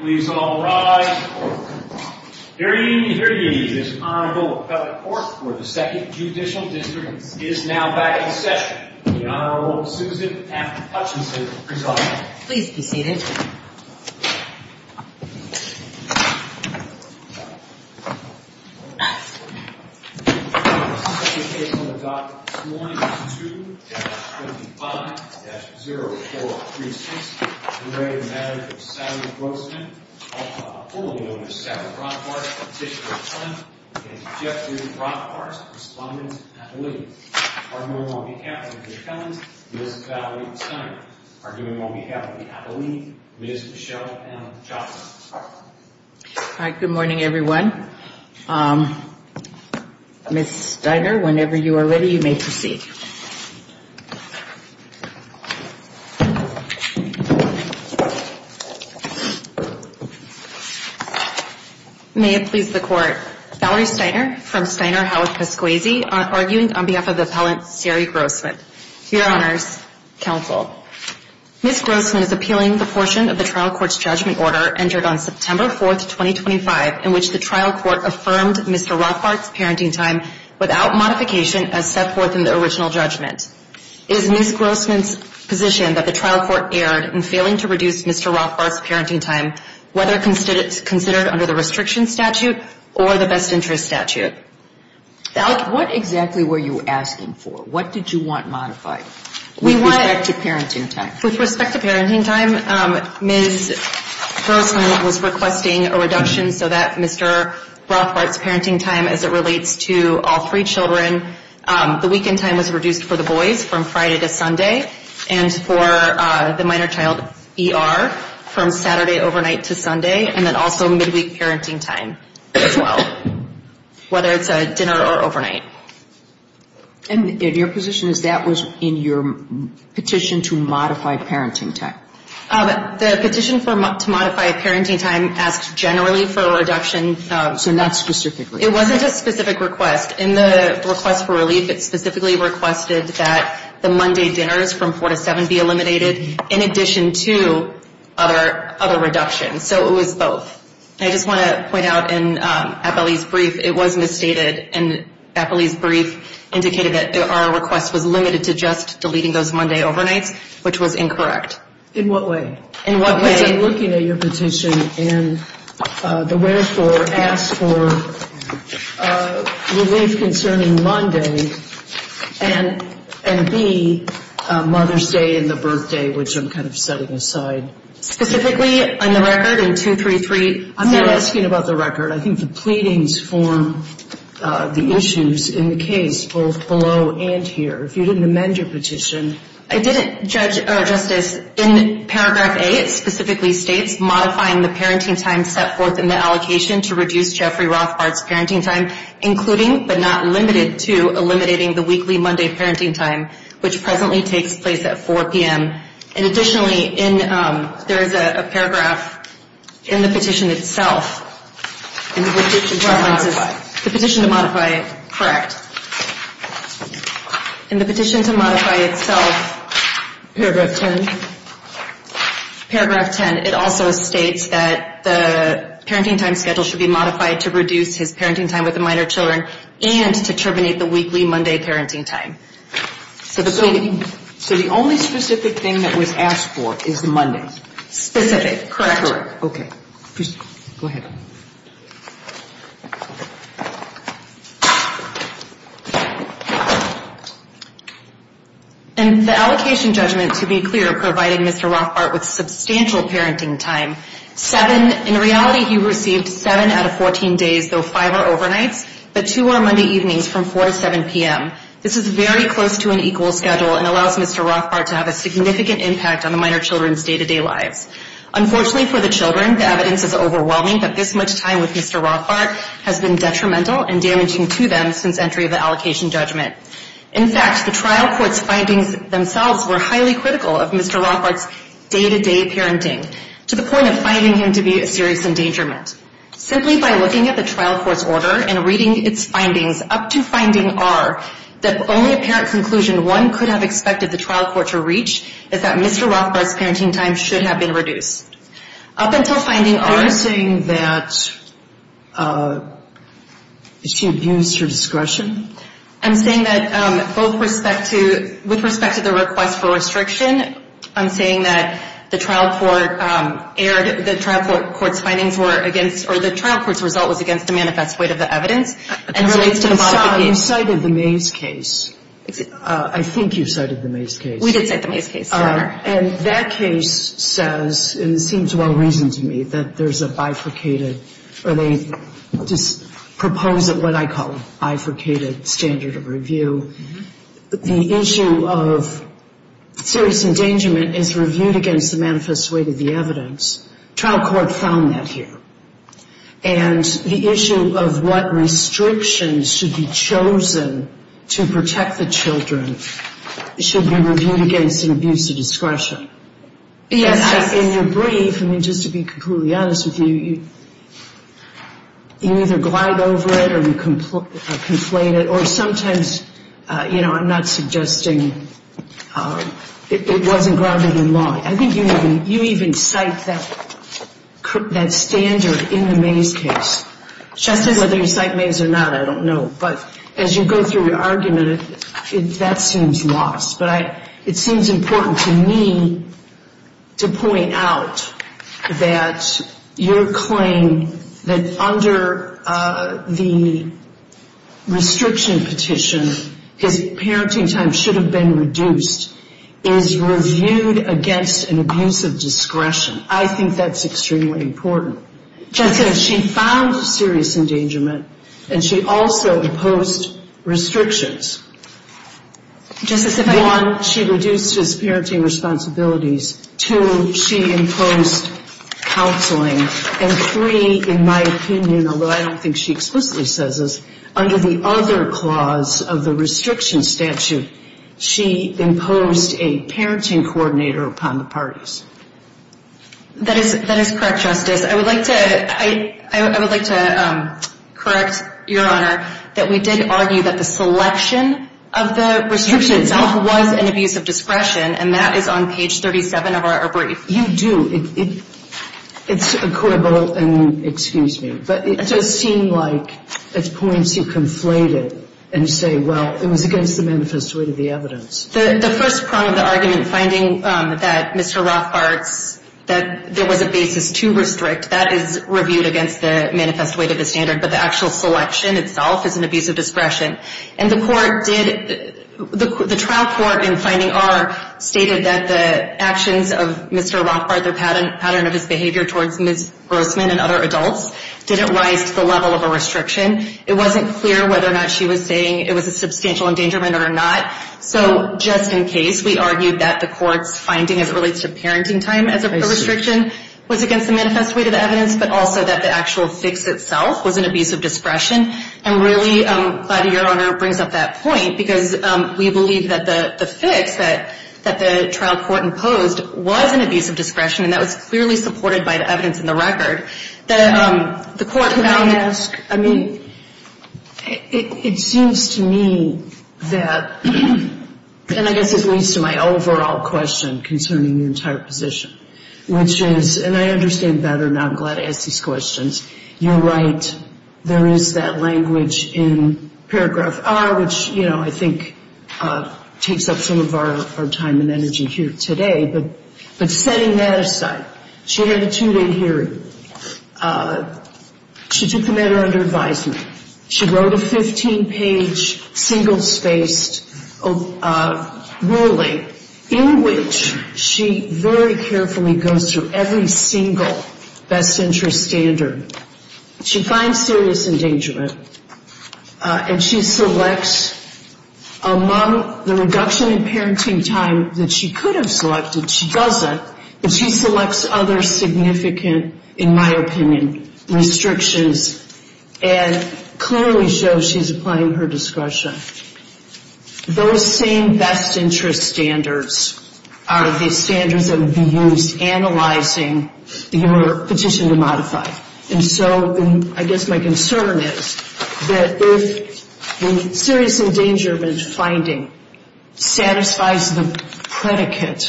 Please all rise. Hear ye, hear ye, this Honorable Appellate Court for the 2nd Judicial District is now back in session. The Honorable Susan F. Hutchinson presiding. Please be seated. The second case on the docket this morning is 2-55-0436. In re Marriage of Sally Grossman. Also formally known as Sally Brockharts, Petitioner of Flint and Jeffrey Brockharts, Respondent, Appellee. Arguing on behalf of Ms. Kellens, Ms. Valerie Steiner. Arguing on behalf of the Appellee, Ms. Michelle M. Johnson. Hi, good morning everyone. Ms. Steiner, whenever you are ready, you may proceed. May it please the Court. Ms. Grossman is appealing the portion of the trial court's judgment order entered on September 4th, 2025. In which the trial court affirmed Mr. Rothbart's parenting time without modification as set forth in the original judgment. It is Ms. Grossman's position that the trial court erred in failing to reduce Mr. Rothbart's parenting time. Whether considered under the restriction statute or the best interest statute. What exactly were you asking for? What did you want modified? With respect to parenting time. With respect to parenting time, Ms. Grossman was requesting a reduction so that Mr. Rothbart's parenting time as it relates to all three children. The weekend time was reduced for the boys from Friday to Sunday. And for the minor child, ER, from Saturday overnight to Sunday. And then also midweek parenting time as well. Whether it's a dinner or overnight. And your position is that was in your petition to modify parenting time. The petition to modify parenting time asked generally for a reduction. So not specifically. It wasn't a specific request. In the request for relief, it specifically requested that the Monday dinners from 4 to 7 be eliminated. In addition to other reductions. So it was both. I just want to point out in Appellee's brief, it was misstated. And Appellee's brief indicated that our request was limited to just deleting those Monday overnights, which was incorrect. In what way? In what way? Because I'm looking at your petition and the wherefore asks for relief concerning Monday and B, Mother's Day and the birthday, which I'm kind of setting aside. Specifically on the record in 233? I'm not asking about the record. I think the pleadings form the issues in the case, both below and here. If you didn't amend your petition. I didn't, Justice. In paragraph A, it specifically states, modifying the parenting time set forth in the allocation to reduce Jeffrey Rothbard's parenting time, including but not limited to eliminating the weekly Monday parenting time, which presently takes place at 4 p.m. And additionally, there is a paragraph in the petition itself. The petition to modify. The petition to modify, correct. In the petition to modify itself. Paragraph 10. Paragraph 10. It also states that the parenting time schedule should be modified to reduce his parenting time with the minor children and to terminate the weekly Monday parenting time. So the only specific thing that was asked for is the Monday. Specific. Correct. Okay. Go ahead. In the allocation judgment, to be clear, providing Mr. Rothbard with substantial parenting time, seven, in reality he received seven out of 14 days, though five are overnights, but two are Monday evenings from 4 to 7 p.m. This is very close to an equal schedule and allows Mr. Rothbard to have a significant impact on the minor children's day-to-day lives. Unfortunately for the children, the evidence is overwhelming that this much time with Mr. Rothbard has been detrimental and damaging to them since entry of the allocation judgment. In fact, the trial court's findings themselves were highly critical of Mr. Rothbard's day-to-day parenting, to the point of finding him to be a serious endangerment. Simply by looking at the trial court's order and reading its findings up to finding R, the only apparent conclusion one could have expected the trial court to reach is that Mr. Rothbard's parenting time should have been reduced. Up until finding R. You're saying that it's to abuse your discretion? I'm saying that with respect to the request for restriction, I'm saying that the trial court's findings were against or the trial court's result was against the manifest weight of the evidence. You cited the Mays case. I think you cited the Mays case. We did cite the Mays case. And that case says, and it seems well-reasoned to me, that there's a bifurcated or they just propose what I call a bifurcated standard of review. The issue of serious endangerment is reviewed against the manifest weight of the evidence. Trial court found that here. And the issue of what restrictions should be chosen to protect the children should be reviewed against an abuse of discretion. In your brief, I mean, just to be completely honest with you, you either glide over it or you conflate it, or sometimes, you know, I'm not suggesting it wasn't grounded in law. I think you even cite that standard in the Mays case. Whether you cite Mays or not, I don't know. But as you go through your argument, that seems lost. But it seems important to me to point out that your claim that under the restriction petition, his parenting time should have been reduced is reviewed against an abuse of discretion. I think that's extremely important. She found serious endangerment, and she also imposed restrictions. One, she reduced his parenting responsibilities. Two, she imposed counseling. And three, in my opinion, although I don't think she explicitly says this, under the other clause of the restriction statute, she imposed a parenting coordinator upon the parties. That is correct, Justice. I would like to correct Your Honor that we did argue that the selection of the restriction itself was an abuse of discretion, and that is on page 37 of our brief. You do. It's a quibble, and excuse me. But it does seem like at points you conflate it and say, well, it was against the manifest weight of the evidence. The first prong of the argument, finding that Mr. Rothbard's, that there was a basis to restrict, that is reviewed against the manifest weight of the standard. But the actual selection itself is an abuse of discretion. And the court did, the trial court in finding R stated that the actions of Mr. Rothbard, the pattern of his behavior towards Ms. Grossman and other adults, didn't rise to the level of a restriction. It wasn't clear whether or not she was saying it was a substantial endangerment or not. So just in case, we argued that the court's finding as it relates to parenting time as a restriction was against the manifest weight of evidence, but also that the actual fix itself was an abuse of discretion. And really, I'm glad your Honor brings up that point, because we believe that the fix that the trial court imposed was an abuse of discretion, and that was clearly supported by the evidence in the record. The court now asks, I mean, it seems to me that, and I guess this leads to my overall question concerning the entire position, which is, and I understand better now, I'm glad I asked these questions. You're right. There is that language in paragraph R, which, you know, I think takes up some of our time and energy here today. But setting that aside, she had a two-day hearing. She took the matter under advisement. She wrote a 15-page single-spaced ruling in which she very carefully goes through every single best interest standard. She finds serious endangerment, and she selects among the reduction in parenting time that she could have selected, she doesn't, but she selects other significant, in my opinion, restrictions. And clearly shows she's applying her discretion. Those same best interest standards are the standards that would be used analyzing your petition to modify. And so I guess my concern is that if the serious endangerment finding satisfies the predicate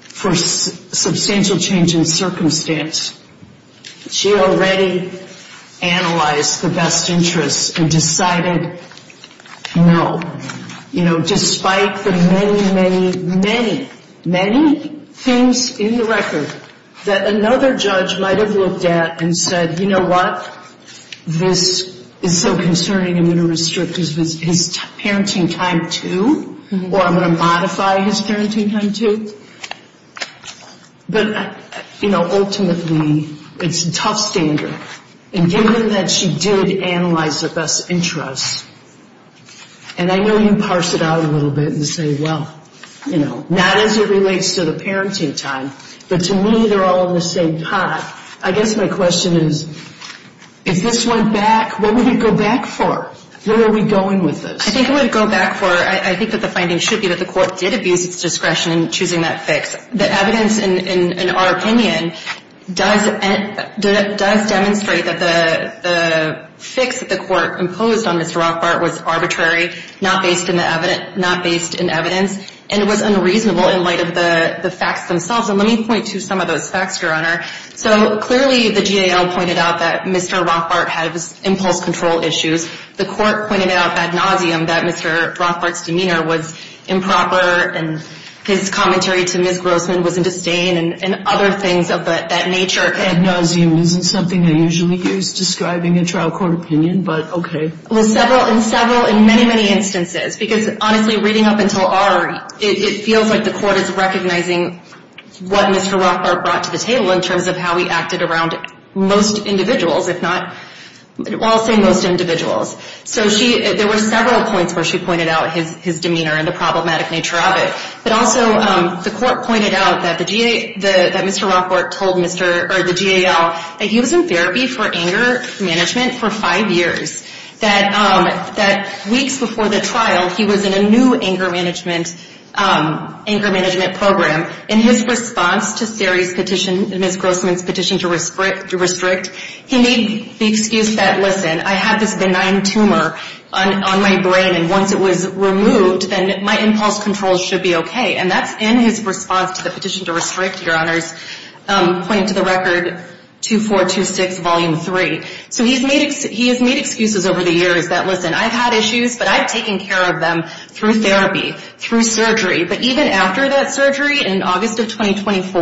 for substantial change in circumstance, she already analyzed the best interests and decided no. You know, despite the many, many, many, many things in the record that another judge might have looked at and said, you know what, this is so concerning, I'm going to restrict his parenting time too, or I'm going to modify his parenting time too. But, you know, ultimately, it's a tough standard. And given that she did analyze the best interests, and I know you parse it out a little bit and say, well, you know, not as it relates to the parenting time, but to me they're all in the same pot. I guess my question is, if this went back, what would it go back for? Where are we going with this? I think it would go back for, I think that the finding should be that the court did abuse its discretion in choosing that fix. The evidence in our opinion does demonstrate that the fix that the court imposed on Mr. Rothbart was arbitrary, not based in evidence, and it was unreasonable in light of the facts themselves. And let me point to some of those facts, Your Honor. So clearly the GAO pointed out that Mr. Rothbart had impulse control issues. The court pointed out ad nauseum that Mr. Rothbart's demeanor was improper and his commentary to Ms. Grossman was in disdain and other things of that nature. Ad nauseum isn't something I usually use describing a trial court opinion, but okay. Well, several, in several, in many, many instances. Because, honestly, reading up until R, it feels like the court is recognizing what Mr. Rothbart brought to the table in terms of how he acted around most individuals, if not, well, I'll say most individuals. So there were several points where she pointed out his demeanor and the problematic nature of it. But also the court pointed out that Mr. Rothbart told the GAO that he was in therapy for anger management for five years, that weeks before the trial he was in a new anger management program. In his response to Sari's petition, Ms. Grossman's petition to restrict, he made the excuse that, listen, I have this benign tumor on my brain, and once it was removed, then my impulse control should be okay. And that's in his response to the petition to restrict, Your Honors, pointing to the record 2426, Volume 3. So he has made excuses over the years that, listen, I've had issues, but I've taken care of them through therapy, through surgery. But even after that surgery, in August of 2024,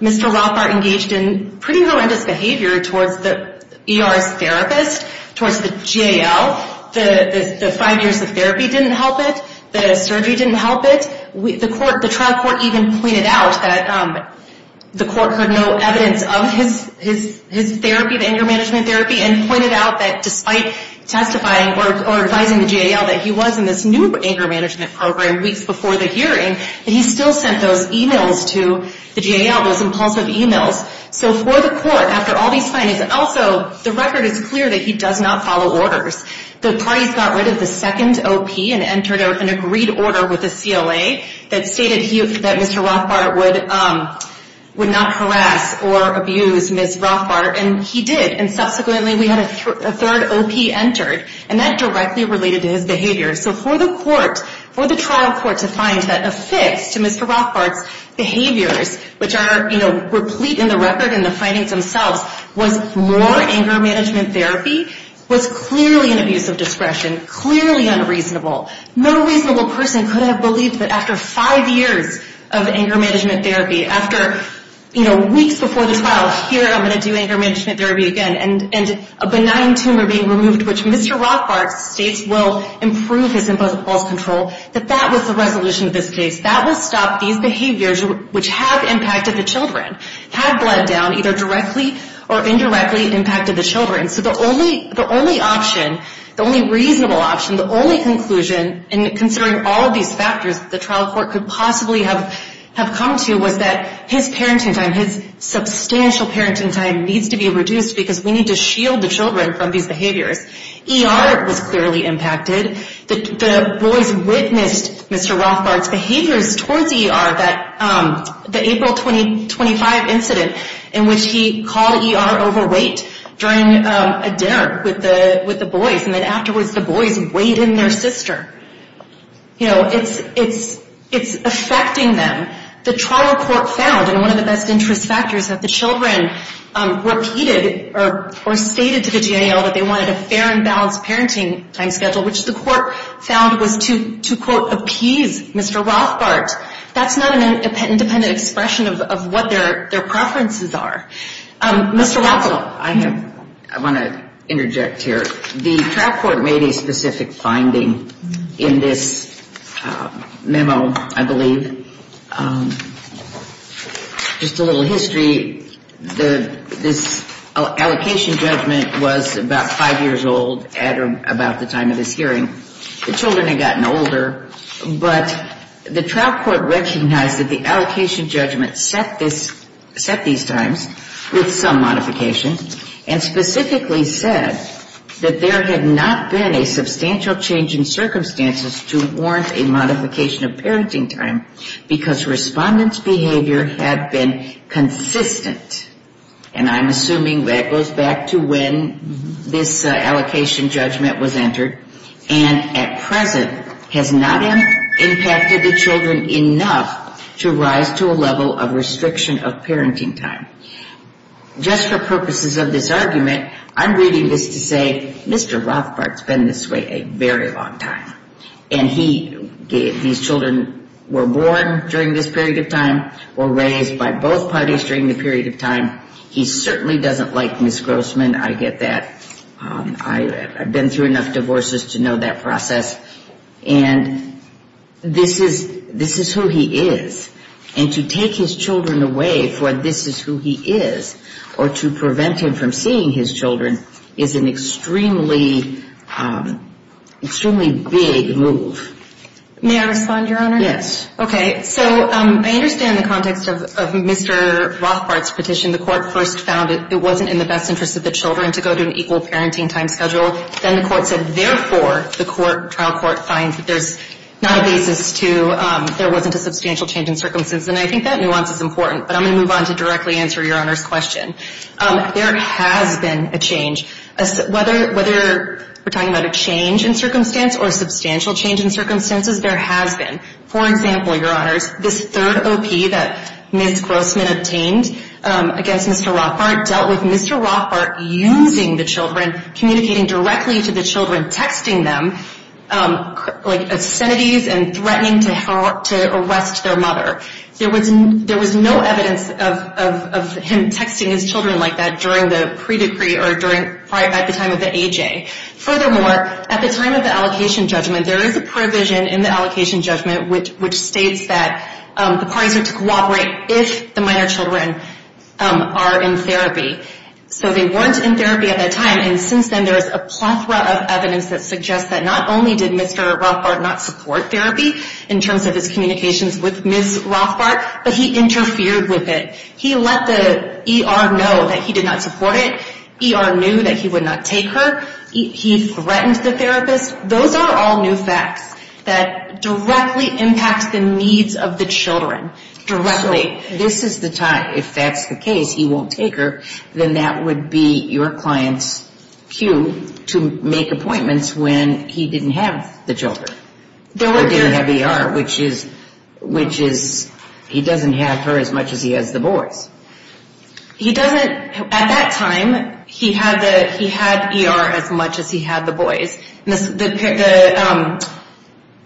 Mr. Rothbart engaged in pretty horrendous behavior towards the ER's therapist, towards the GAO. The five years of therapy didn't help it. The surgery didn't help it. The trial court even pointed out that the court heard no evidence of his therapy, the anger management therapy, and pointed out that despite testifying or advising the GAO that he was in this new anger management program weeks before the hearing, that he still sent those emails to the GAO, those impulsive emails. So for the court, after all these findings, also the record is clear that he does not follow orders. The parties got rid of the second OP and entered an agreed order with the CLA that stated that Mr. Rothbart would not harass or abuse Ms. Rothbart. And he did. And subsequently we had a third OP entered. And that directly related to his behavior. So for the court, for the trial court to find that a fix to Mr. Rothbart's behaviors, which are, you know, replete in the record and the findings themselves, was more anger management therapy was clearly an abuse of discretion, clearly unreasonable. No reasonable person could have believed that after five years of anger management therapy, after, you know, weeks before the trial, here I'm going to do anger management therapy again, and a benign tumor being removed, which Mr. Rothbart states will improve his impulse control, that that was the resolution of this case. That will stop these behaviors, which have impacted the children, have bled down either directly or indirectly impacted the children. So the only option, the only reasonable option, the only conclusion, and considering all of these factors, the trial court could possibly have come to was that his parenting time, his substantial parenting time needs to be reduced because we need to shield the children from these behaviors. ER was clearly impacted. The boys witnessed Mr. Rothbart's behaviors towards ER, that the April 2025 incident in which he called ER overweight during a dinner with the boys. And then afterwards the boys weighed in their sister. You know, it's affecting them. The trial court found, and one of the best interest factors, that the children repeated or stated to the GAL that they wanted a fair and balanced parenting time schedule, which the court found was to, quote, appease Mr. Rothbart. That's not an independent expression of what their preferences are. Mr. Rothbart. Well, I have, I want to interject here. The trial court made a specific finding in this memo, I believe. Just a little history. This allocation judgment was about five years old at or about the time of this hearing. The children had gotten older, but the trial court recognized that the allocation judgment set this, set these times with some modification, and specifically said that there had not been a substantial change in circumstances to warrant a modification of parenting time because respondents' behavior had been consistent, and I'm assuming that goes back to when this allocation judgment was entered, and at present has not impacted the children enough to rise to a level of restriction of parenting time. Just for purposes of this argument, I'm reading this to say, Mr. Rothbart's been this way a very long time. And he, these children were born during this period of time, were raised by both parties during the period of time. He certainly doesn't like Ms. Grossman. I get that. I've been through enough divorces to know that process. And this is, this is who he is. And to take his children away for this is who he is or to prevent him from seeing his children is an extremely, extremely big move. May I respond, Your Honor? Yes. Okay. So I understand the context of Mr. Rothbart's petition. The court first found it wasn't in the best interest of the children to go to an equal parenting time schedule. Then the court said, therefore, the court, trial court, finds that there's not a basis to, there wasn't a substantial change in circumstances. And I think that nuance is important, but I'm going to move on to directly answer Your Honor's question. There has been a change. Whether, whether we're talking about a change in circumstance or a substantial change in circumstances, there has been. For example, Your Honors, this third OP that Ms. Grossman obtained against Mr. Rothbart dealt with Mr. Rothbart using the children, communicating directly to the children, texting them, like, obscenities and threatening to arrest their mother. There was no evidence of him texting his children like that during the pre-decree or during, at the time of the AJ. Furthermore, at the time of the allocation judgment, there is a provision in the allocation judgment which states that the parties are to cooperate if the minor children are in therapy. So they weren't in therapy at that time. And since then, there is a plethora of evidence that suggests that not only did Mr. Rothbart not support therapy in terms of his communications with Ms. Rothbart, but he interfered with it. He let the ER know that he did not support it. ER knew that he would not take her. He threatened the therapist. Those are all new facts that directly impact the needs of the children, directly. This is the time, if that's the case, he won't take her, then that would be your client's cue to make appointments when he didn't have the children or didn't have ER, which is, he doesn't have her as much as he has the boys. He doesn't, at that time, he had ER as much as he had the boys.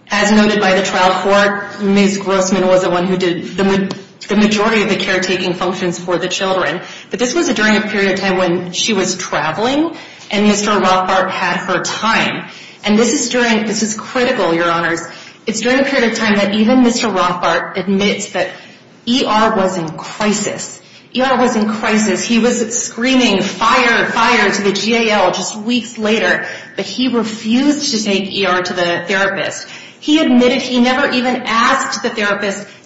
As noted by the trial court, Ms. Grossman was the one who did, the majority of the caretaking functions for the children. But this was during a period of time when she was traveling and Mr. Rothbart had her time. And this is during, this is critical, your honors. It's during a period of time that even Mr. Rothbart admits that ER was in crisis. ER was in crisis. He was screaming fire, fire to the GAL just weeks later, but he refused to take ER to the hospital. He refused to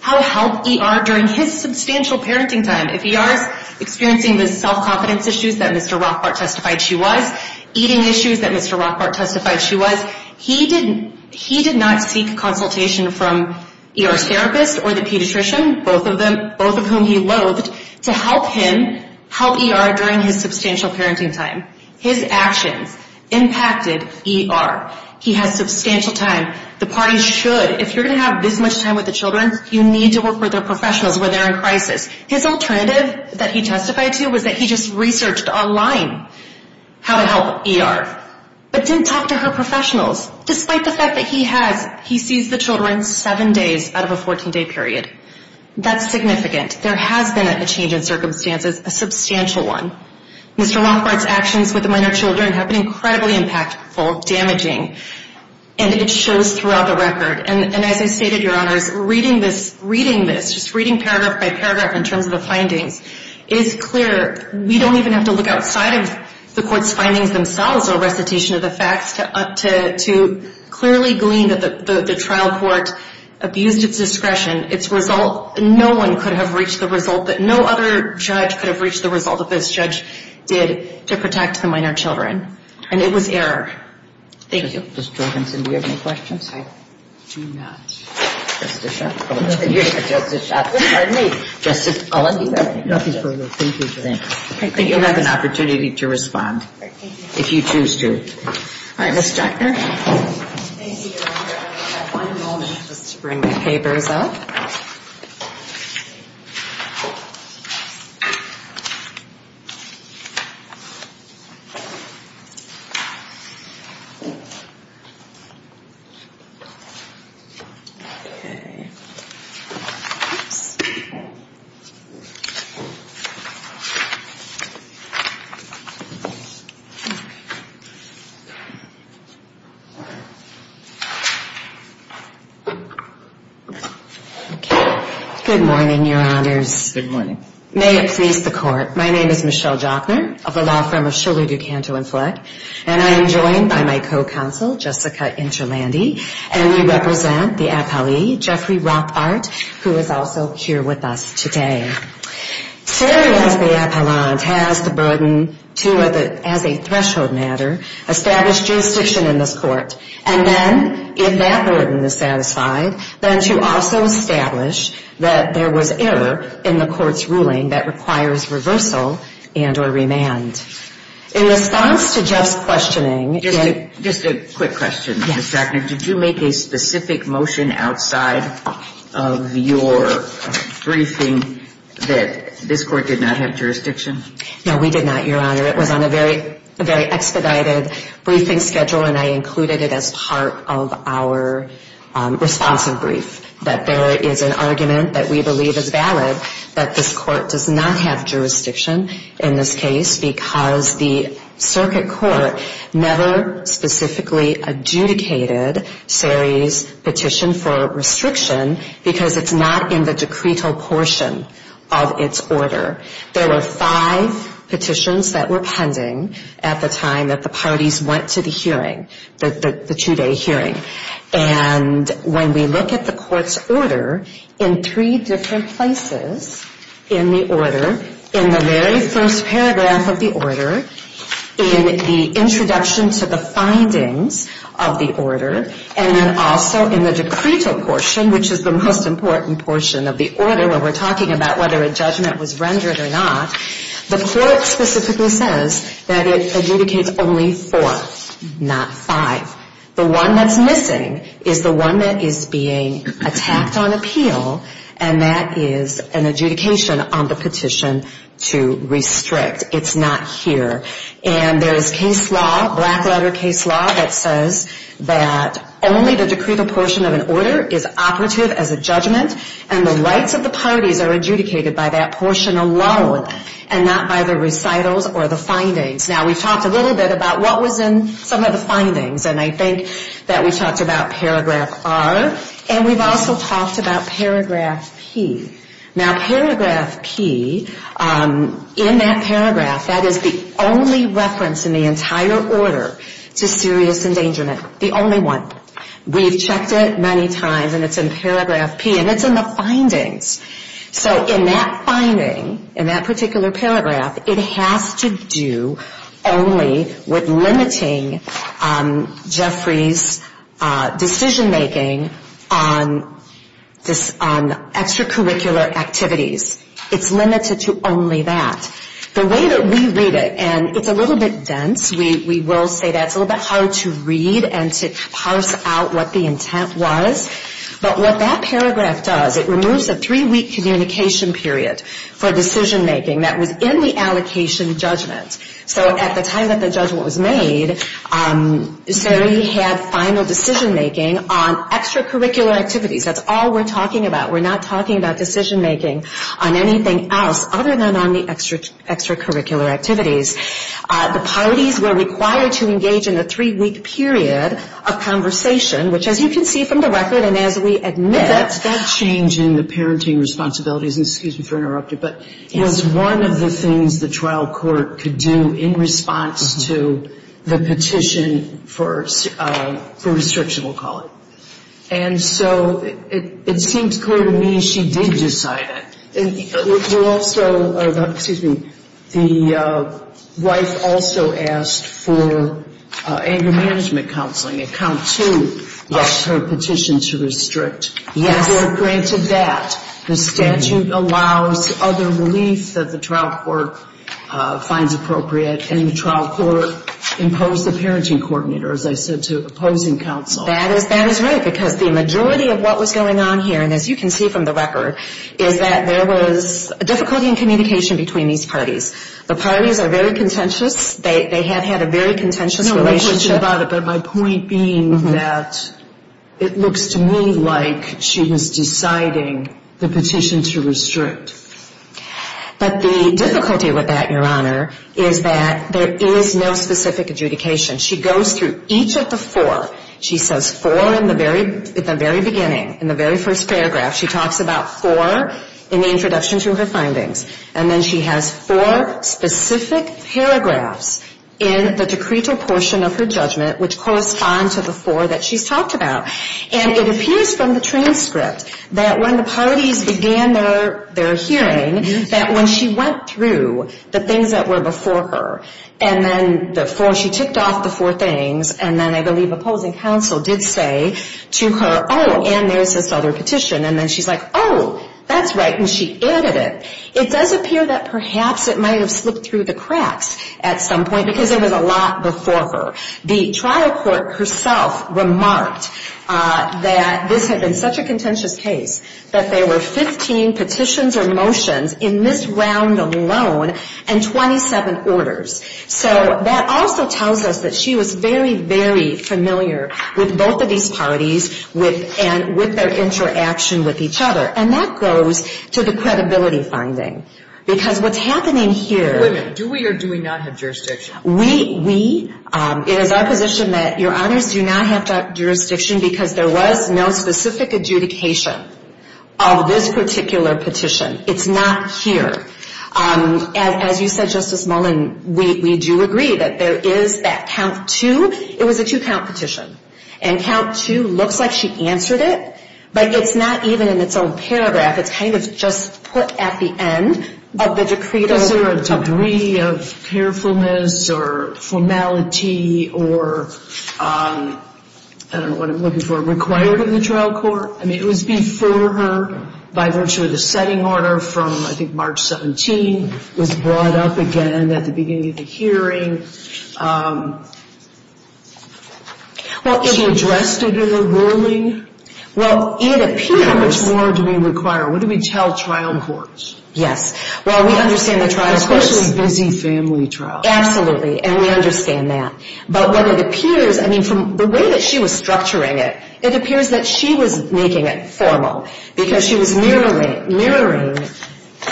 help ER during his substantial parenting time. If ER is experiencing the self-confidence issues that Mr. Rothbart testified she was, eating issues that Mr. Rothbart testified she was, he did not seek consultation from ER's therapist or the pediatrician, both of whom he loathed, to help him help ER during his substantial parenting time. His actions impacted ER. He has substantial time. The party should, if you're going to have this much time with the children, you need to work with their professionals when they're in crisis. His alternative that he testified to was that he just researched online how to help ER, but didn't talk to her professionals, despite the fact that he has, he sees the children seven days out of a 14-day period. That's significant. There has been a change in circumstances, a substantial one. Mr. Rothbart's actions with the minor children have been incredibly impactful, damaging, and it shows in the record. And as I stated, Your Honors, reading this, reading this, just reading paragraph by paragraph in terms of the findings is clear. We don't even have to look outside of the court's findings themselves or recitation of the facts to clearly glean that the trial court abused its discretion. Its result, no one could have reached the result that no other judge could have reached the result that this judge did to protect the minor children. And it was error. Thank you. Ms. Jorgensen, do you have any questions? I do not. Just a shot. Just a shot. Pardon me. I'll let you go. Nothing further. Thank you. Thank you. You'll have an opportunity to respond if you choose to. All right, Ms. Jackner. Thank you, Your Honor. I'll have one moment just to bring my papers up. Okay. Oops. Okay. Good morning, Your Honors. Good morning. May it please the Court. My name is Michelle Jackner of the law firm of Louis, DuCanto, and Fleck, and I am joined by my co-counsel, Jessica Interlandi, and we represent the appellee, Jeffrey Rothbart, who is also here with us today. Today, as the appellant has the burden to, as a threshold matter, establish jurisdiction in this court, and then, if that burden is satisfied, then to also establish that there was error in the court's ruling that requires reversal and or remand. In response to Jeff's questioning... Just a quick question, Ms. Jackner. Yes. Did you make a specific motion outside of your briefing that this court did not have jurisdiction? No, we did not, Your Honor. It was on a very expedited briefing schedule, and I included it as part of our responsive brief, that there is an argument that we believe is valid that this court does not have jurisdiction in this case, because the appellant has the burden to establish jurisdiction in this case. The circuit court never specifically adjudicated Sari's petition for restriction, because it's not in the decretal portion of its order. There were five petitions that were pending at the time that the parties went to the hearing, the two-day hearing. And when we look at the court's order, in three different places in the order, in the very first paragraph of the order, it says, in the introduction to the findings of the order, and then also in the decretal portion, which is the most important portion of the order when we're talking about whether a judgment was rendered or not, the court specifically says that it adjudicates only four, not five. The one that's missing is the one that is being attacked on appeal, and that is an adjudication on the petition to restrict. It's not here. And there is case law, black-letter case law, that says that only the decretal portion of an order is operative as a judgment, and the rights of the parties are adjudicated by that portion alone, and not by the recitals or the findings. Now, we've talked a little bit about what was in some of the findings, and I think that we talked about paragraph R, and we've also talked about paragraph P. Now, paragraph P, in that paragraph, that is the only reference in the entire order to serious endangerment, the only one. We've checked it many times, and it's in paragraph P, and it's in the findings. So in that finding, in that particular paragraph, it has to do only with limiting Jeffrey's decision-making on extracurricular activities. It's limited to only that. The way that we read it, and it's a little bit dense, we will say that. It's a little bit hard to read and to parse out what the intent was. But what that paragraph does, it removes a three-week communication period for decision-making that was in the allocation judgment. So at the time that the judgment was made, he had final decision-making on extracurricular activities. That's all we're talking about. We're not talking about decision-making on anything else other than on the extracurricular activities. The parties were required to engage in a three-week period of conversation, which as you can see from the record and as we admit... That change in the parenting responsibilities, and excuse me for interrupting, but it was one of the things the trial court could do in response to the petition for restriction, we'll call it. And so it seems clear to me she did decide it. You're also, excuse me, the wife also asked for anger management counseling, a count two of her petition to restrict. The court granted that. The statute allows other relief that the trial court finds appropriate, and the trial court imposed a parenting coordinator, as I said, to opposing counsel. I'm sorry, because the majority of what was going on here, and as you can see from the record, is that there was a difficulty in communication between these parties. The parties are very contentious. They have had a very contentious relationship. No question about it, but my point being that it looks to me like she was deciding the petition to restrict. But the difficulty with that, Your Honor, is that there is no specific adjudication. She goes through each of the four. She says four in the very beginning, in the very first paragraph. She talks about four in the introduction to her findings, and then she has four specific paragraphs in the decreto portion of her judgment, which correspond to the four that she's talked about. And it appears from the transcript that when the parties began their hearing, that when she went through the things that were before her, and then the four, she ticked off the four. And then I believe opposing counsel did say to her, oh, and there's this other petition. And then she's like, oh, that's right, and she added it. It does appear that perhaps it might have slipped through the cracks at some point, because there was a lot before her. The trial court herself remarked that this had been such a contentious case that there were 15 petitions or motions in this round alone, and 27 orders. So that also tells us that she was very, very familiar with both of these parties, and with their interaction with each other. And that goes to the credibility finding. Because what's happening here... We, it is our position that, Your Honors, do not have that jurisdiction, because there was no specific adjudication of this particular petition. It's not here. As you said, Justice Mullin, we do agree that there is that count two. It was a two-count petition. And count two looks like she answered it, but it's not even in its own paragraph. It's kind of just put at the end of the decreto. Is there a degree of carefulness or formality or... I don't know what I'm looking for. Required of the trial court? I mean, it was before her, by virtue of the setting order from, I think, March 17, was brought up again at the beginning of the hearing. Well, she addressed it in a ruling. Well, it appears... How much more do we require? What do we tell trial courts? Yes. Well, we understand the trial courts. Especially busy family trials. Absolutely. And we understand that. But what it appears... I mean, from the way that she was structuring it, it appears that she was making it formal. Because she was mirroring...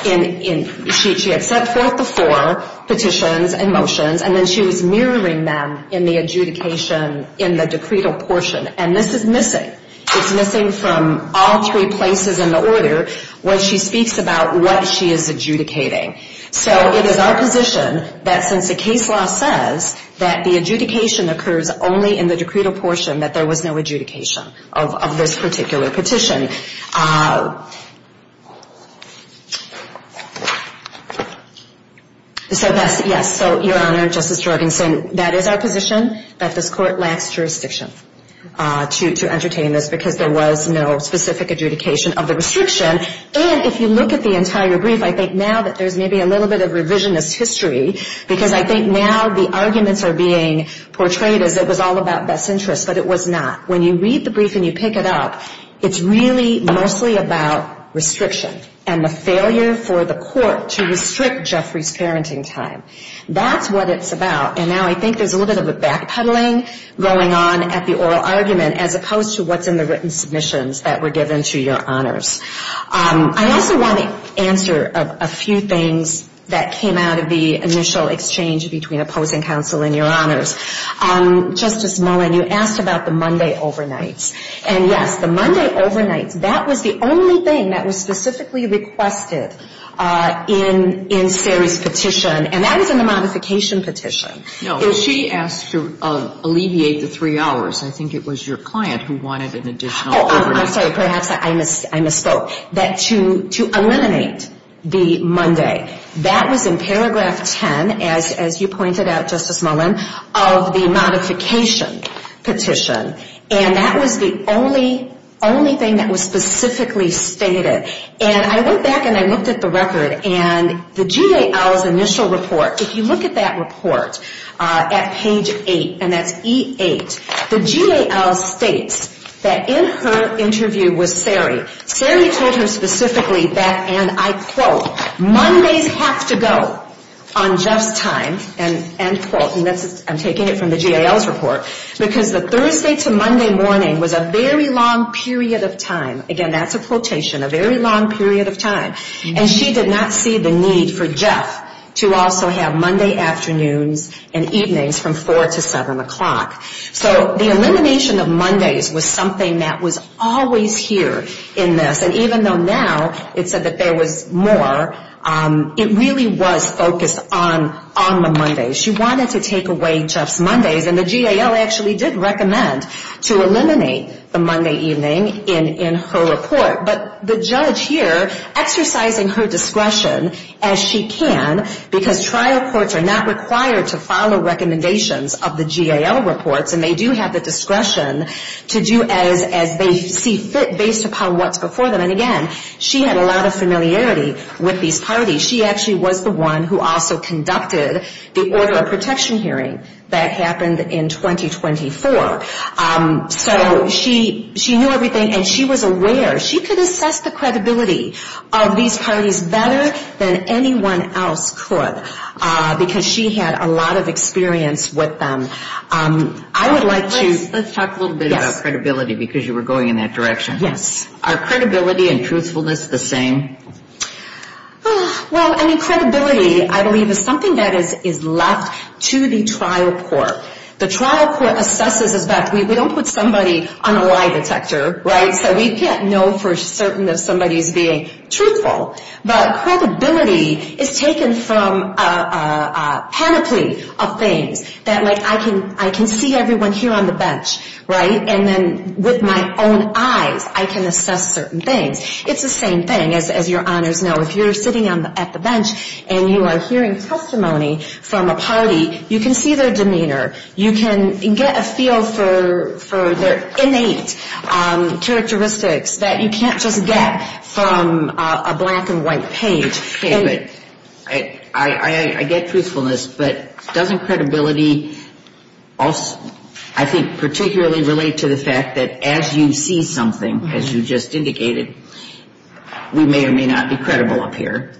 She had set forth before petitions and motions, and then she was mirroring them in the adjudication in the decreto portion. And this is missing. It's missing from all three places in the order when she speaks about what she is adjudicating. So it is our position that since the case law says that the adjudication occurs only in the decreto portion, that there was no adjudication of this particular petition. Yes. So, Your Honor, Justice Jorgenson, that is our position, that this court lacks jurisdiction to entertain this, because there was no specific adjudication of the restriction. And if you look at the entire brief, I think now that there's maybe a little bit of revisionist history, because I think now the arguments are being portrayed as it was all about best interests, but it was not. When you read the brief and you pick it up, it's really mostly about restriction. And the failure for the court to restrict Jeffrey's parenting time. That's what it's about. And now I think there's a little bit of a back-puddling going on at the oral argument, as opposed to what's in the written submissions that were given to Your Honors. I also want to answer a few things that came out of the initial exchange between opposing counsel and Your Honors. Justice Mullen, you asked about the Monday overnights. And, yes, the Monday overnights, that was the only thing that was specifically requested in Sari's petition. And that was in the modification petition. No, she asked to alleviate the three hours. I think it was your client who wanted an additional overnight. Oh, I'm sorry. Perhaps I misspoke. That to eliminate the Monday, that was in paragraph 10, as you pointed out, Justice Mullen, of the modification petition. And that was the only thing that was specifically stated. And I went back and I looked at the record, and the GAL's initial report, if you look at that report at page eight, and that's E8, the GAL states that in her interview with Sari, Sari told her specifically that, and I quote, Mondays have to go on Jeff's time, end quote. And I'm taking it from the GAL's report, because the Thursday to Monday morning was a very long period of time. Again, that's a quotation, a very long period of time. And she did not see the need for Jeff to also have Monday afternoons and evenings from 4 to 7 o'clock. So the elimination of Mondays was something that was always here in this. And even though now it said that there was more, it really was focused on the Mondays. She wanted to take away Jeff's Mondays, and the GAL actually did recommend to eliminate the Monday evening in her report. But the judge here, exercising her discretion as she can, because trial courts are not required to follow recommendations of the GAL reports, and they do have the discretion to do as they see fit based upon what's before them. And again, she had a lot of familiarity with these parties. She actually was the one who also conducted the order of protection hearing that happened in 2024. So she knew everything, and she was aware. She could assess the credibility of these parties better than anyone else could, because she had a lot of experience with them. I would like to... Let's talk a little bit about credibility, because you were going in that direction. Are credibility and truthfulness the same? Well, I mean, credibility, I believe, is something that is left to the trial court. The trial court assesses, in fact, we don't put somebody on a lie detector, right? So we can't know for certain if somebody is being truthful. But credibility is taken from a panoply of things. That, like, I can see everyone here on the bench, right? And then with my own eyes, I can assess certain things. It's the same thing, as your honors know. If you're sitting at the bench and you are hearing testimony from a party, you can see their demeanor. You can get a feel for their innate characteristics that you can't just get from a black and white page. Okay, but I get truthfulness. But doesn't credibility, I think, particularly relate to the fact that as you see something, as you just indicated, we may or may not be credible up here?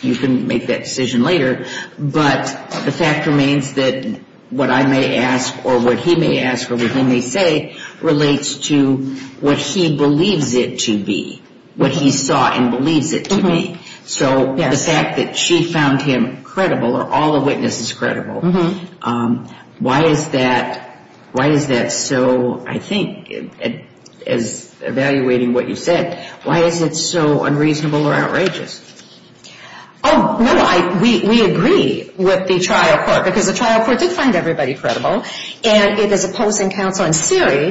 You can make that decision later. But the fact remains that what I may ask or what he may ask or what he may say relates to what he believes it to be, what he saw and believes it to be. So the fact that she found him credible or all the witnesses credible, why is that so, I think, as evaluating what you said, why is it so unreasonable or outrageous? Oh, no, we agree with the trial court because the trial court did find everybody credible. And it is opposing counsel in Siri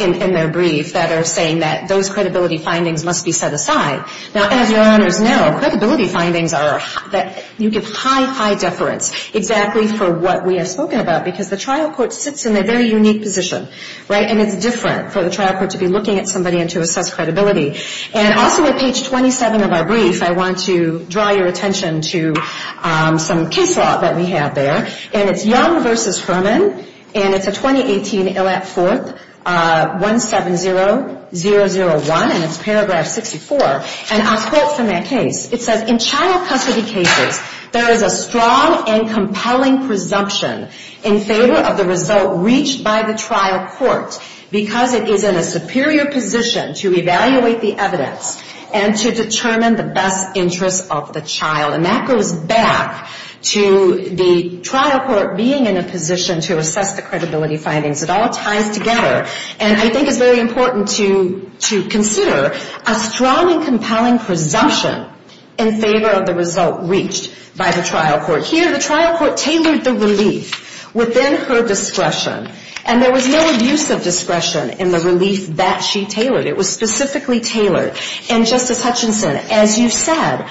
in their brief that are saying that those credibility findings must be set aside. Now, as your honors know, credibility findings are that you give high, high deference exactly for what we have spoken about because the trial court sits in a very unique position, right, and it's different for the trial court to be looking at somebody and to assess credibility. And also at page 27 of our brief, I want to draw your attention to some case law that we have there, and it's Young v. Herman, and it's a 2018 ILL Act 4th, 170-001, and it's paragraph 64. And I'll quote from that case. It says, in child custody cases, there is a strong and compelling presumption in favor of the result reached by the trial court because it is in a superior position to evaluate the evidence and to determine the best interest of the child. And that goes back to the trial court being in a position to assess the credibility findings. It all ties together. And I think it's very important to consider a strong and compelling presumption in favor of the result reached by the trial court. Here, the trial court tailored the relief within her discretion, and there was no abuse of discretion in the relief that she tailored. It was specifically tailored. And, Justice Hutchinson, as you said,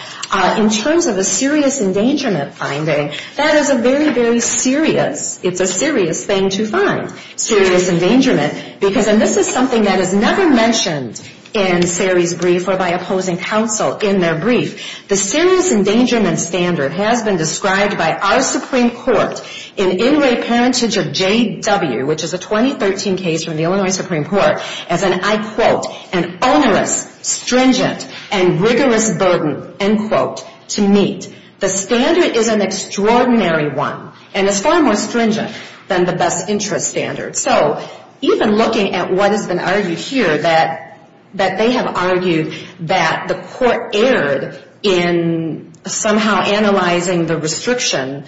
in terms of a serious endangerment finding, that is a very, very serious, it's a serious thing to find, serious endangerment, because, and this is something that is never mentioned in Sari's brief or by opposing counsel in their brief, the serious endangerment standard has been described by our Supreme Court in In Re Parentage of J.W., which is a 2013 case from the Illinois Supreme Court, as an, I quote, an onerous, stringent, and rigorous burden, end quote, to meet. The standard is an extraordinary one. And it's far more stringent than the best interest standard. So even looking at what has been argued here, that they have argued that the court erred in somehow analyzing the restriction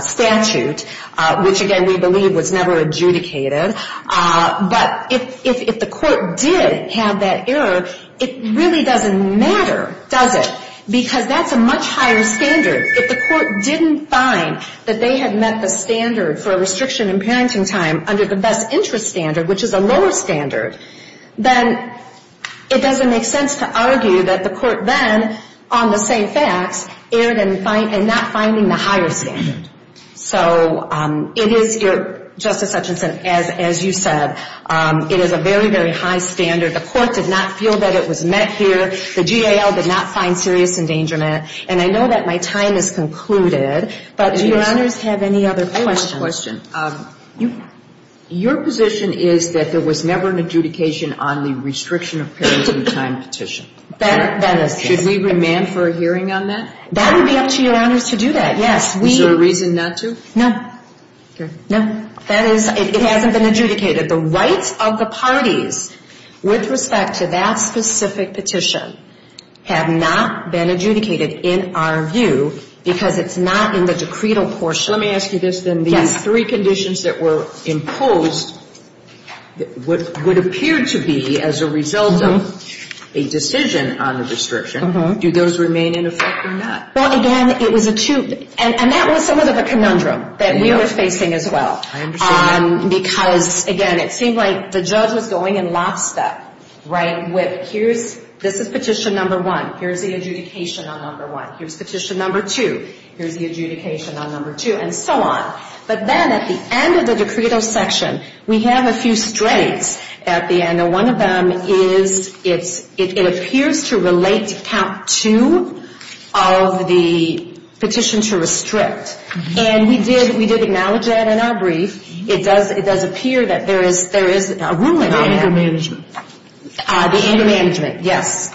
statute, which, again, we believe was never adjudicated, but if the court did have that error, it really doesn't matter, does it? Because that's a much higher standard. If the court didn't find that they had met the standard for a restriction in parenting time under the best interest standard, which is a lower standard, then it doesn't make sense to argue that the court then, on the same facts, erred in not finding the higher standard. So it is, Justice Hutchinson, as you said, it is a very, very high standard. The court did not feel that it was met here. The GAL did not find serious endangerment. And I know that my time has concluded, but do Your Honors have any other questions? Your position is that there was never an adjudication on the restriction of parenting time petition. That is correct. Should we remand for a hearing on that? That would be up to Your Honors to do that, yes. Is there a reason not to? No. That is, it hasn't been adjudicated. The rights of the parties with respect to that specific petition have not been adjudicated in our view because it's not in the decretal portion. Let me ask you this then. These three conditions that were imposed would appear to be as a result of a decision on the restriction. Do those remain in effect or not? Well, again, it was a two, and that was somewhat of a conundrum that we were facing as well. I understand that. Because, again, it seemed like the judge was going in last step, right, with here's, this is petition number one. Here's the adjudication on number one. Here's petition number two. Here's the adjudication on number two. And so on. But then at the end of the decretal section, we have a few straights at the end. One of them is it appears to relate to count two of the petition to restrict. And we did acknowledge that in our brief. It does appear that there is a ruling on that. The anger management. The anger management, yes.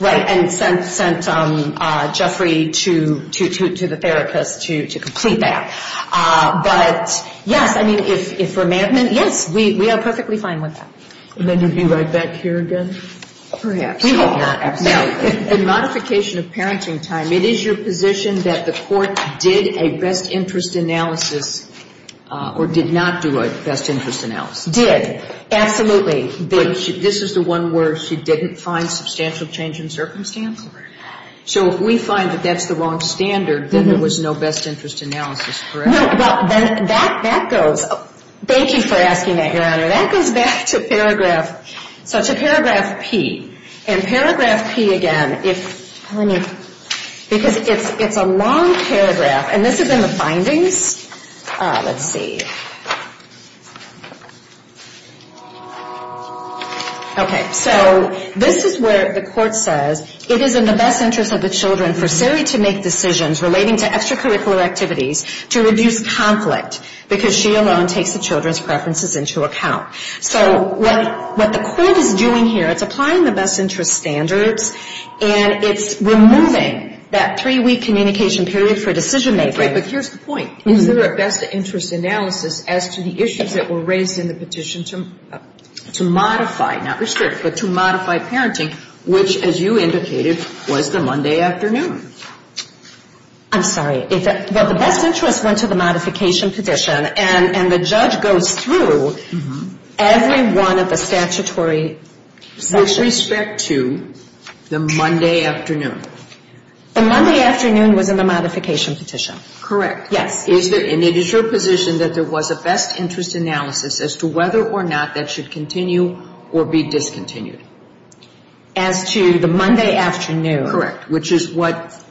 And sent Jeffrey to the therapist to complete that. But, yes, I mean, if for management, yes, we are perfectly fine with that. And then you'd be right back here again? Perhaps. The modification of parenting time, it is your position that the court did a best interest analysis or did not do a best interest analysis? Did. Absolutely. This is the one where she didn't find substantial change in circumstance? So if we find that that's the wrong standard, then there was no best interest analysis, correct? Well, that goes. Thank you for asking that, Your Honor. That goes back to paragraph. So it's a paragraph P. And paragraph P again, because it's a long paragraph and this is in the findings. Let's see. Okay. So this is where the court says it is in the best interest of the children for Sari to make decisions relating to extracurricular activities to reduce conflict because she alone takes the children's preferences into account. So what the court is doing here, it's applying the best interest standards and it's removing that three week communication period for decision making. But here's the point. Is there a best interest analysis as to the issues that were raised in the petition to modify, not restrict, but to modify parenting, which, as you indicated, was the Monday afternoon? I'm sorry. The best interest went to the modification petition and the judge goes through every one of the statutory sections. With respect to the Monday afternoon. The Monday afternoon was in the modification petition. Correct. Yes. And it is your position that there was a best interest analysis as to whether or not that should continue or be discontinued? As to the Monday afternoon. Correct. Which is what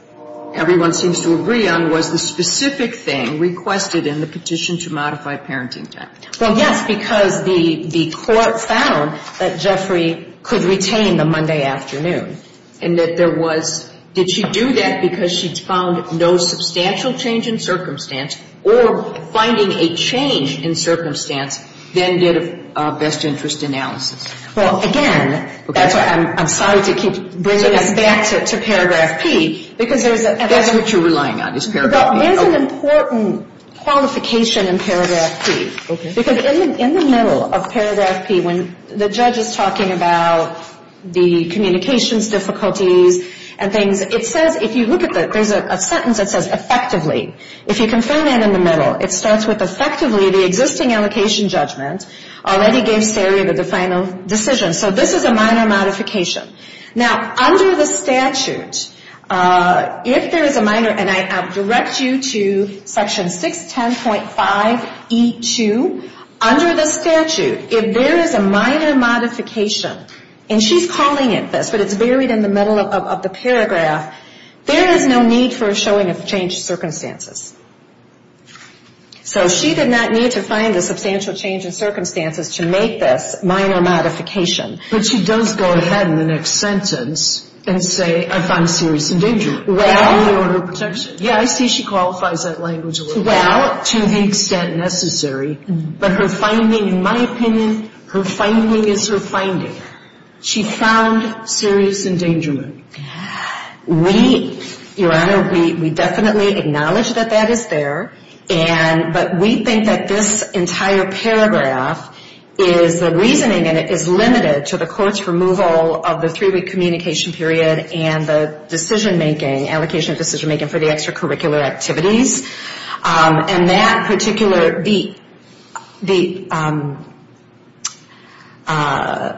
everyone seems to agree on was the specific thing requested in the petition to modify parenting time. Well, yes, because the court found that Jeffrey could retain the Monday afternoon. And that there was, did she do that because she found no substantial change in circumstance or finding a change in circumstance than did a best interest analysis? Well, again, I'm sorry to keep bringing us back to Paragraph P because there's a. That's what you're relying on is Paragraph P. There's an important qualification in Paragraph P. Okay. Because in the middle of Paragraph P, when the judge is talking about the communications difficulties and things, it says, if you look at the, there's a sentence that says effectively. If you confirm that in the middle, it starts with effectively the existing allocation judgment already gave Saria the final decision. So this is a minor modification. Now, under the statute, if there is a minor, and I direct you to Section 610.5E2, under the statute, if there is a minor modification, and she's calling it this, but it's buried in the middle of the paragraph, there is no need for a showing of changed circumstances. So she did not need to find a substantial change in circumstances to make this minor modification. But she does go ahead in the next sentence and say, I found serious endangerment. Well. Under the order of protection. Yeah, I see she qualifies that language a little bit. Well, to the extent necessary. But her finding, in my opinion, her finding is her finding. She found serious endangerment. We, Your Honor, we definitely acknowledge that that is there. But we think that this entire paragraph is the reasoning, and it is limited to the court's removal of the three-week communication period and the decision-making, allocation of decision-making for the extracurricular activities. And that particular, the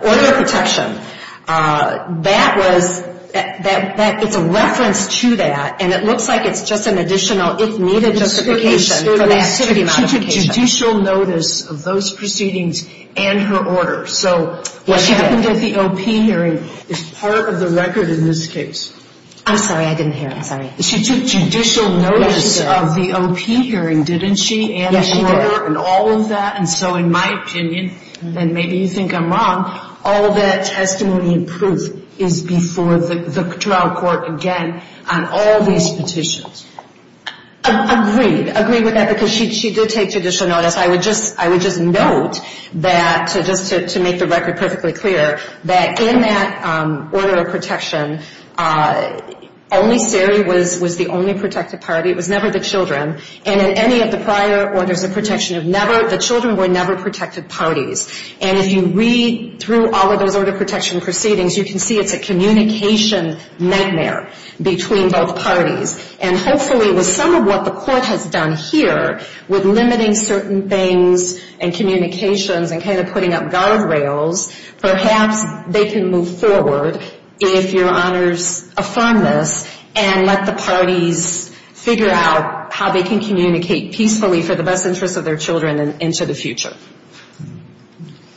order of protection, that was, it's a reference to that, and it looks like it's just an additional, if needed, justification for that city modification. She took judicial notice of those proceedings and her order. So what happened at the O.P. hearing is part of the record in this case. I'm sorry, I didn't hear. I'm sorry. She took judicial notice of the O.P. hearing, didn't she, and the order and all of that? And so in my opinion, and maybe you think I'm wrong, all of that testimony and proof is before the trial court again on all these petitions. Agreed. Agreed with that, because she did take judicial notice. I would just note that, just to make the record perfectly clear, that in that order of protection, only CERI was the only protected party. It was never the children. And in any of the prior orders of protection, the children were never protected parties. And if you read through all of those order of protection proceedings, you can see it's a communication nightmare between both parties. And hopefully with some of what the court has done here, with limiting certain things and communications and kind of putting up guardrails, perhaps they can move forward if your honors affirm this and let the parties figure out how they can communicate peacefully for the best interest of their children and into the future.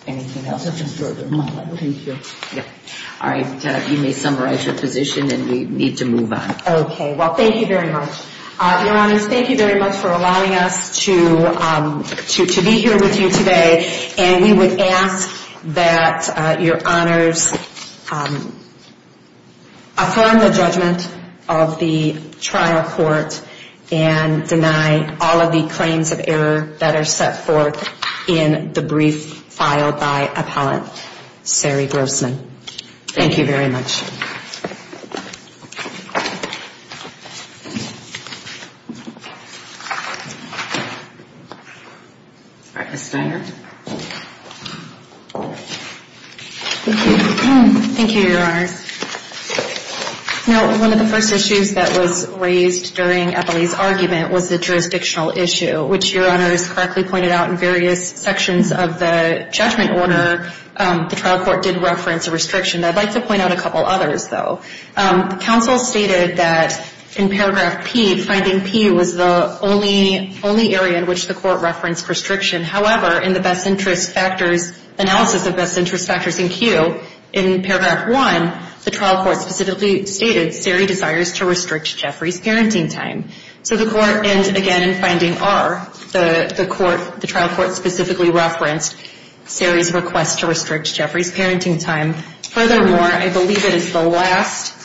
Anything else? You may summarize your position and we need to move on. Okay. Well, thank you very much. Your honors, thank you very much for allowing us to be here with you today. And we would ask that your honors affirm the judgment of the trial court and deny all of the claims of error that are set forth in the brief filed by Appellant Sari Grossman. Thank you very much. All right. Ms. Steiner. Thank you, your honors. Now, one of the first issues that was raised during Appellee's argument was the jurisdictional issue, which your honors correctly pointed out in various sections of the judgment order, the trial court did reference a restriction. I'd like to point out a couple others, though. Counsel stated that in Paragraph P, finding P was the only area in which the court referenced restriction. However, in the best interest factors analysis of best interest factors in Q, in Paragraph 1, the trial court specifically stated Sari desires to restrict Jeffrey's parenting time. So the court, and again, in finding R, the trial court specifically referenced Sari's request to restrict Jeffrey's parenting time. Furthermore, I believe it is the last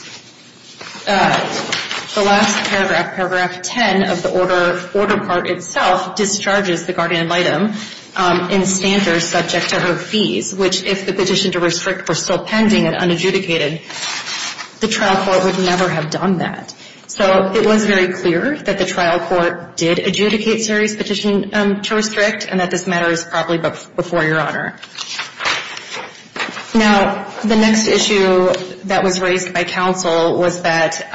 Paragraph, Paragraph 10 of the order part itself discharges the guardian ad litem in standards subject to her fees, which if the petition to restrict were still pending and unadjudicated, the trial court would never have done that. So it was very clear that the trial court did adjudicate Sari's petition to restrict, and that this matter is probably before your honor. Now, the next issue that was raised by counsel was that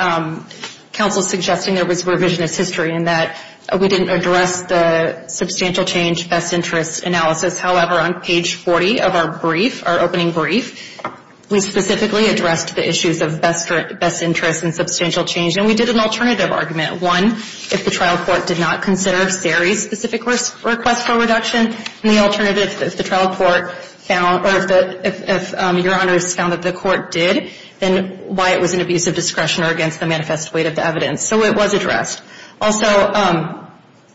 counsel's suggesting there was revisionist history and that we didn't address the substantial change best interest analysis. However, on page 40 of our brief, our opening brief, we specifically addressed the issues of best interest and substantial change, and we did an alternative argument. One, if the trial court did not consider Sari's specific request for reduction, and the alternative, if the trial court found or if your honors found that the court did, then why it was an abuse of discretion or against the manifest weight of the evidence. So it was addressed. Also,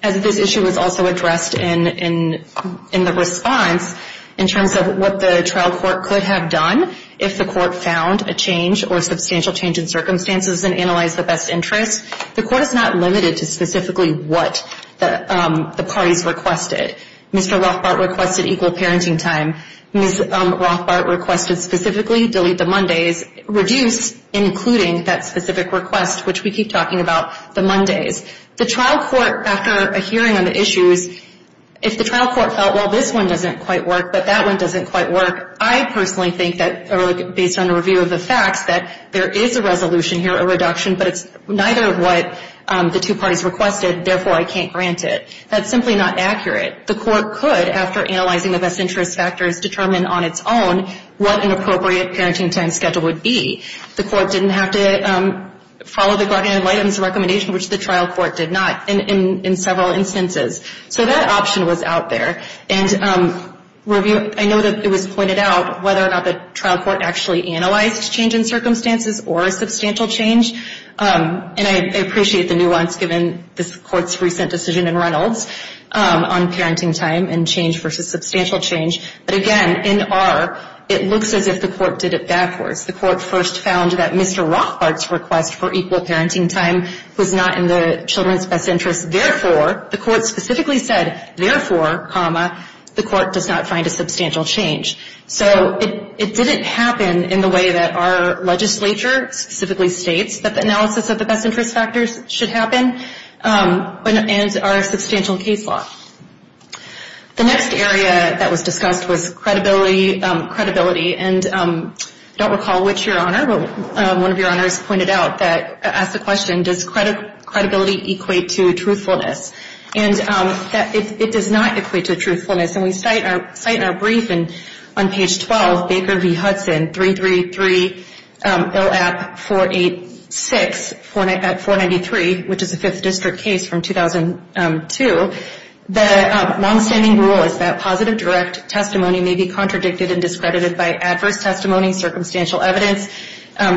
as this issue was also addressed in the response, in terms of what the trial court could have done if the court found a change or substantial change in circumstances and analyzed the best interest, the court is not limited to specifically what the parties requested. Mr. Rothbart requested equal parenting time. Ms. Rothbart requested specifically delete the Mondays, reduce including that specific request, which we keep talking about, the Mondays. The trial court, after a hearing on the issues, if the trial court felt, well, this one doesn't quite work, but that one doesn't quite work, I personally think that, based on a review of the facts, that there is a resolution here, a reduction, but it's neither of what the two parties requested, therefore I can't grant it. That's simply not accurate. The court could, after analyzing the best interest factors, determine on its own what an appropriate parenting time schedule would be. The court didn't have to follow the guardian of items recommendation, which the trial court did not, in several instances. So that option was out there. And review, I know that it was pointed out whether or not the trial court actually analyzed change in circumstances or substantial change, and I appreciate the nuance given this court's recent decision in Reynolds on parenting time and change versus substantial change, but again, in R, it looks as if the court did it backwards. The court first found that Mr. Rothbart's request for equal parenting time was not in the children's best interest, therefore, the court specifically said, therefore, the court does not find a substantial change. So it didn't happen in the way that our legislature specifically states that analysis of the best interest factors should happen, and our substantial case law. The next area that was discussed was credibility, and I don't recall which your honor, but one of your honors pointed out that, asked the question, does credibility equate to truthfulness? And it does not equate to truthfulness, and we cite in our brief, and on page 12, Baker v. Hudson, 333 ILAP 486 at 493, which is a 5th district case from 2002, the longstanding rule is that positive direct testimony may be contradicted and discredited by adverse testimony, circumstantial evidence,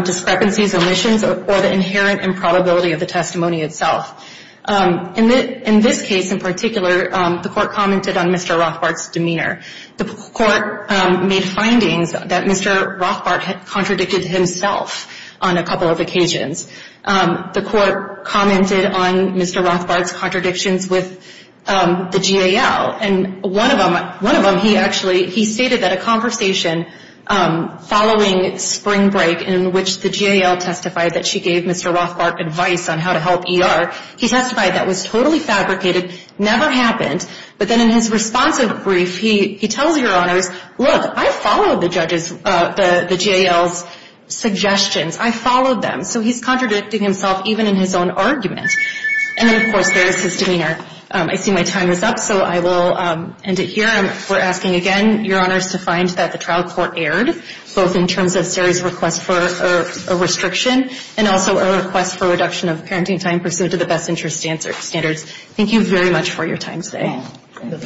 discrepancies, omissions, or the inherent improbability of the testimony itself. In this case in particular, the court commented on Mr. Rothbart's demeanor. The court made findings that Mr. Rothbart had contradicted himself on a couple of occasions. The court commented on Mr. Rothbart's contradictions with the GAL, and one of them, he actually, he stated that a conversation following spring break in which the GAL testified that she gave Mr. Rothbart advice on how to help ER, he testified that was totally fabricated, never happened. But then in his responsive brief, he tells your honors, look, I followed the judges, the GAL's suggestions. I followed them. So he's contradicting himself even in his own argument. And then of course there is his demeanor. I see my time is up, so I will end it here. We're asking again, your honors, to find that the trial court erred, both in terms of Sari's request for a restriction and also a request for reduction of parenting time pursuant to the best interest standards. Thank you very much for your time today. Thank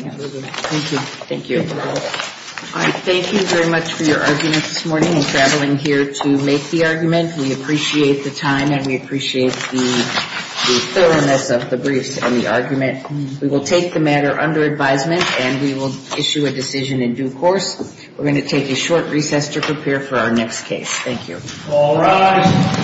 you. Thank you. All right. Thank you very much for your argument this morning and traveling here to make the argument. We appreciate the time and we appreciate the thoroughness of the briefs and the argument. We will take the matter under advisement and we will issue a decision in due course. We're going to take a short recess to prepare for our next case. Thank you. All rise.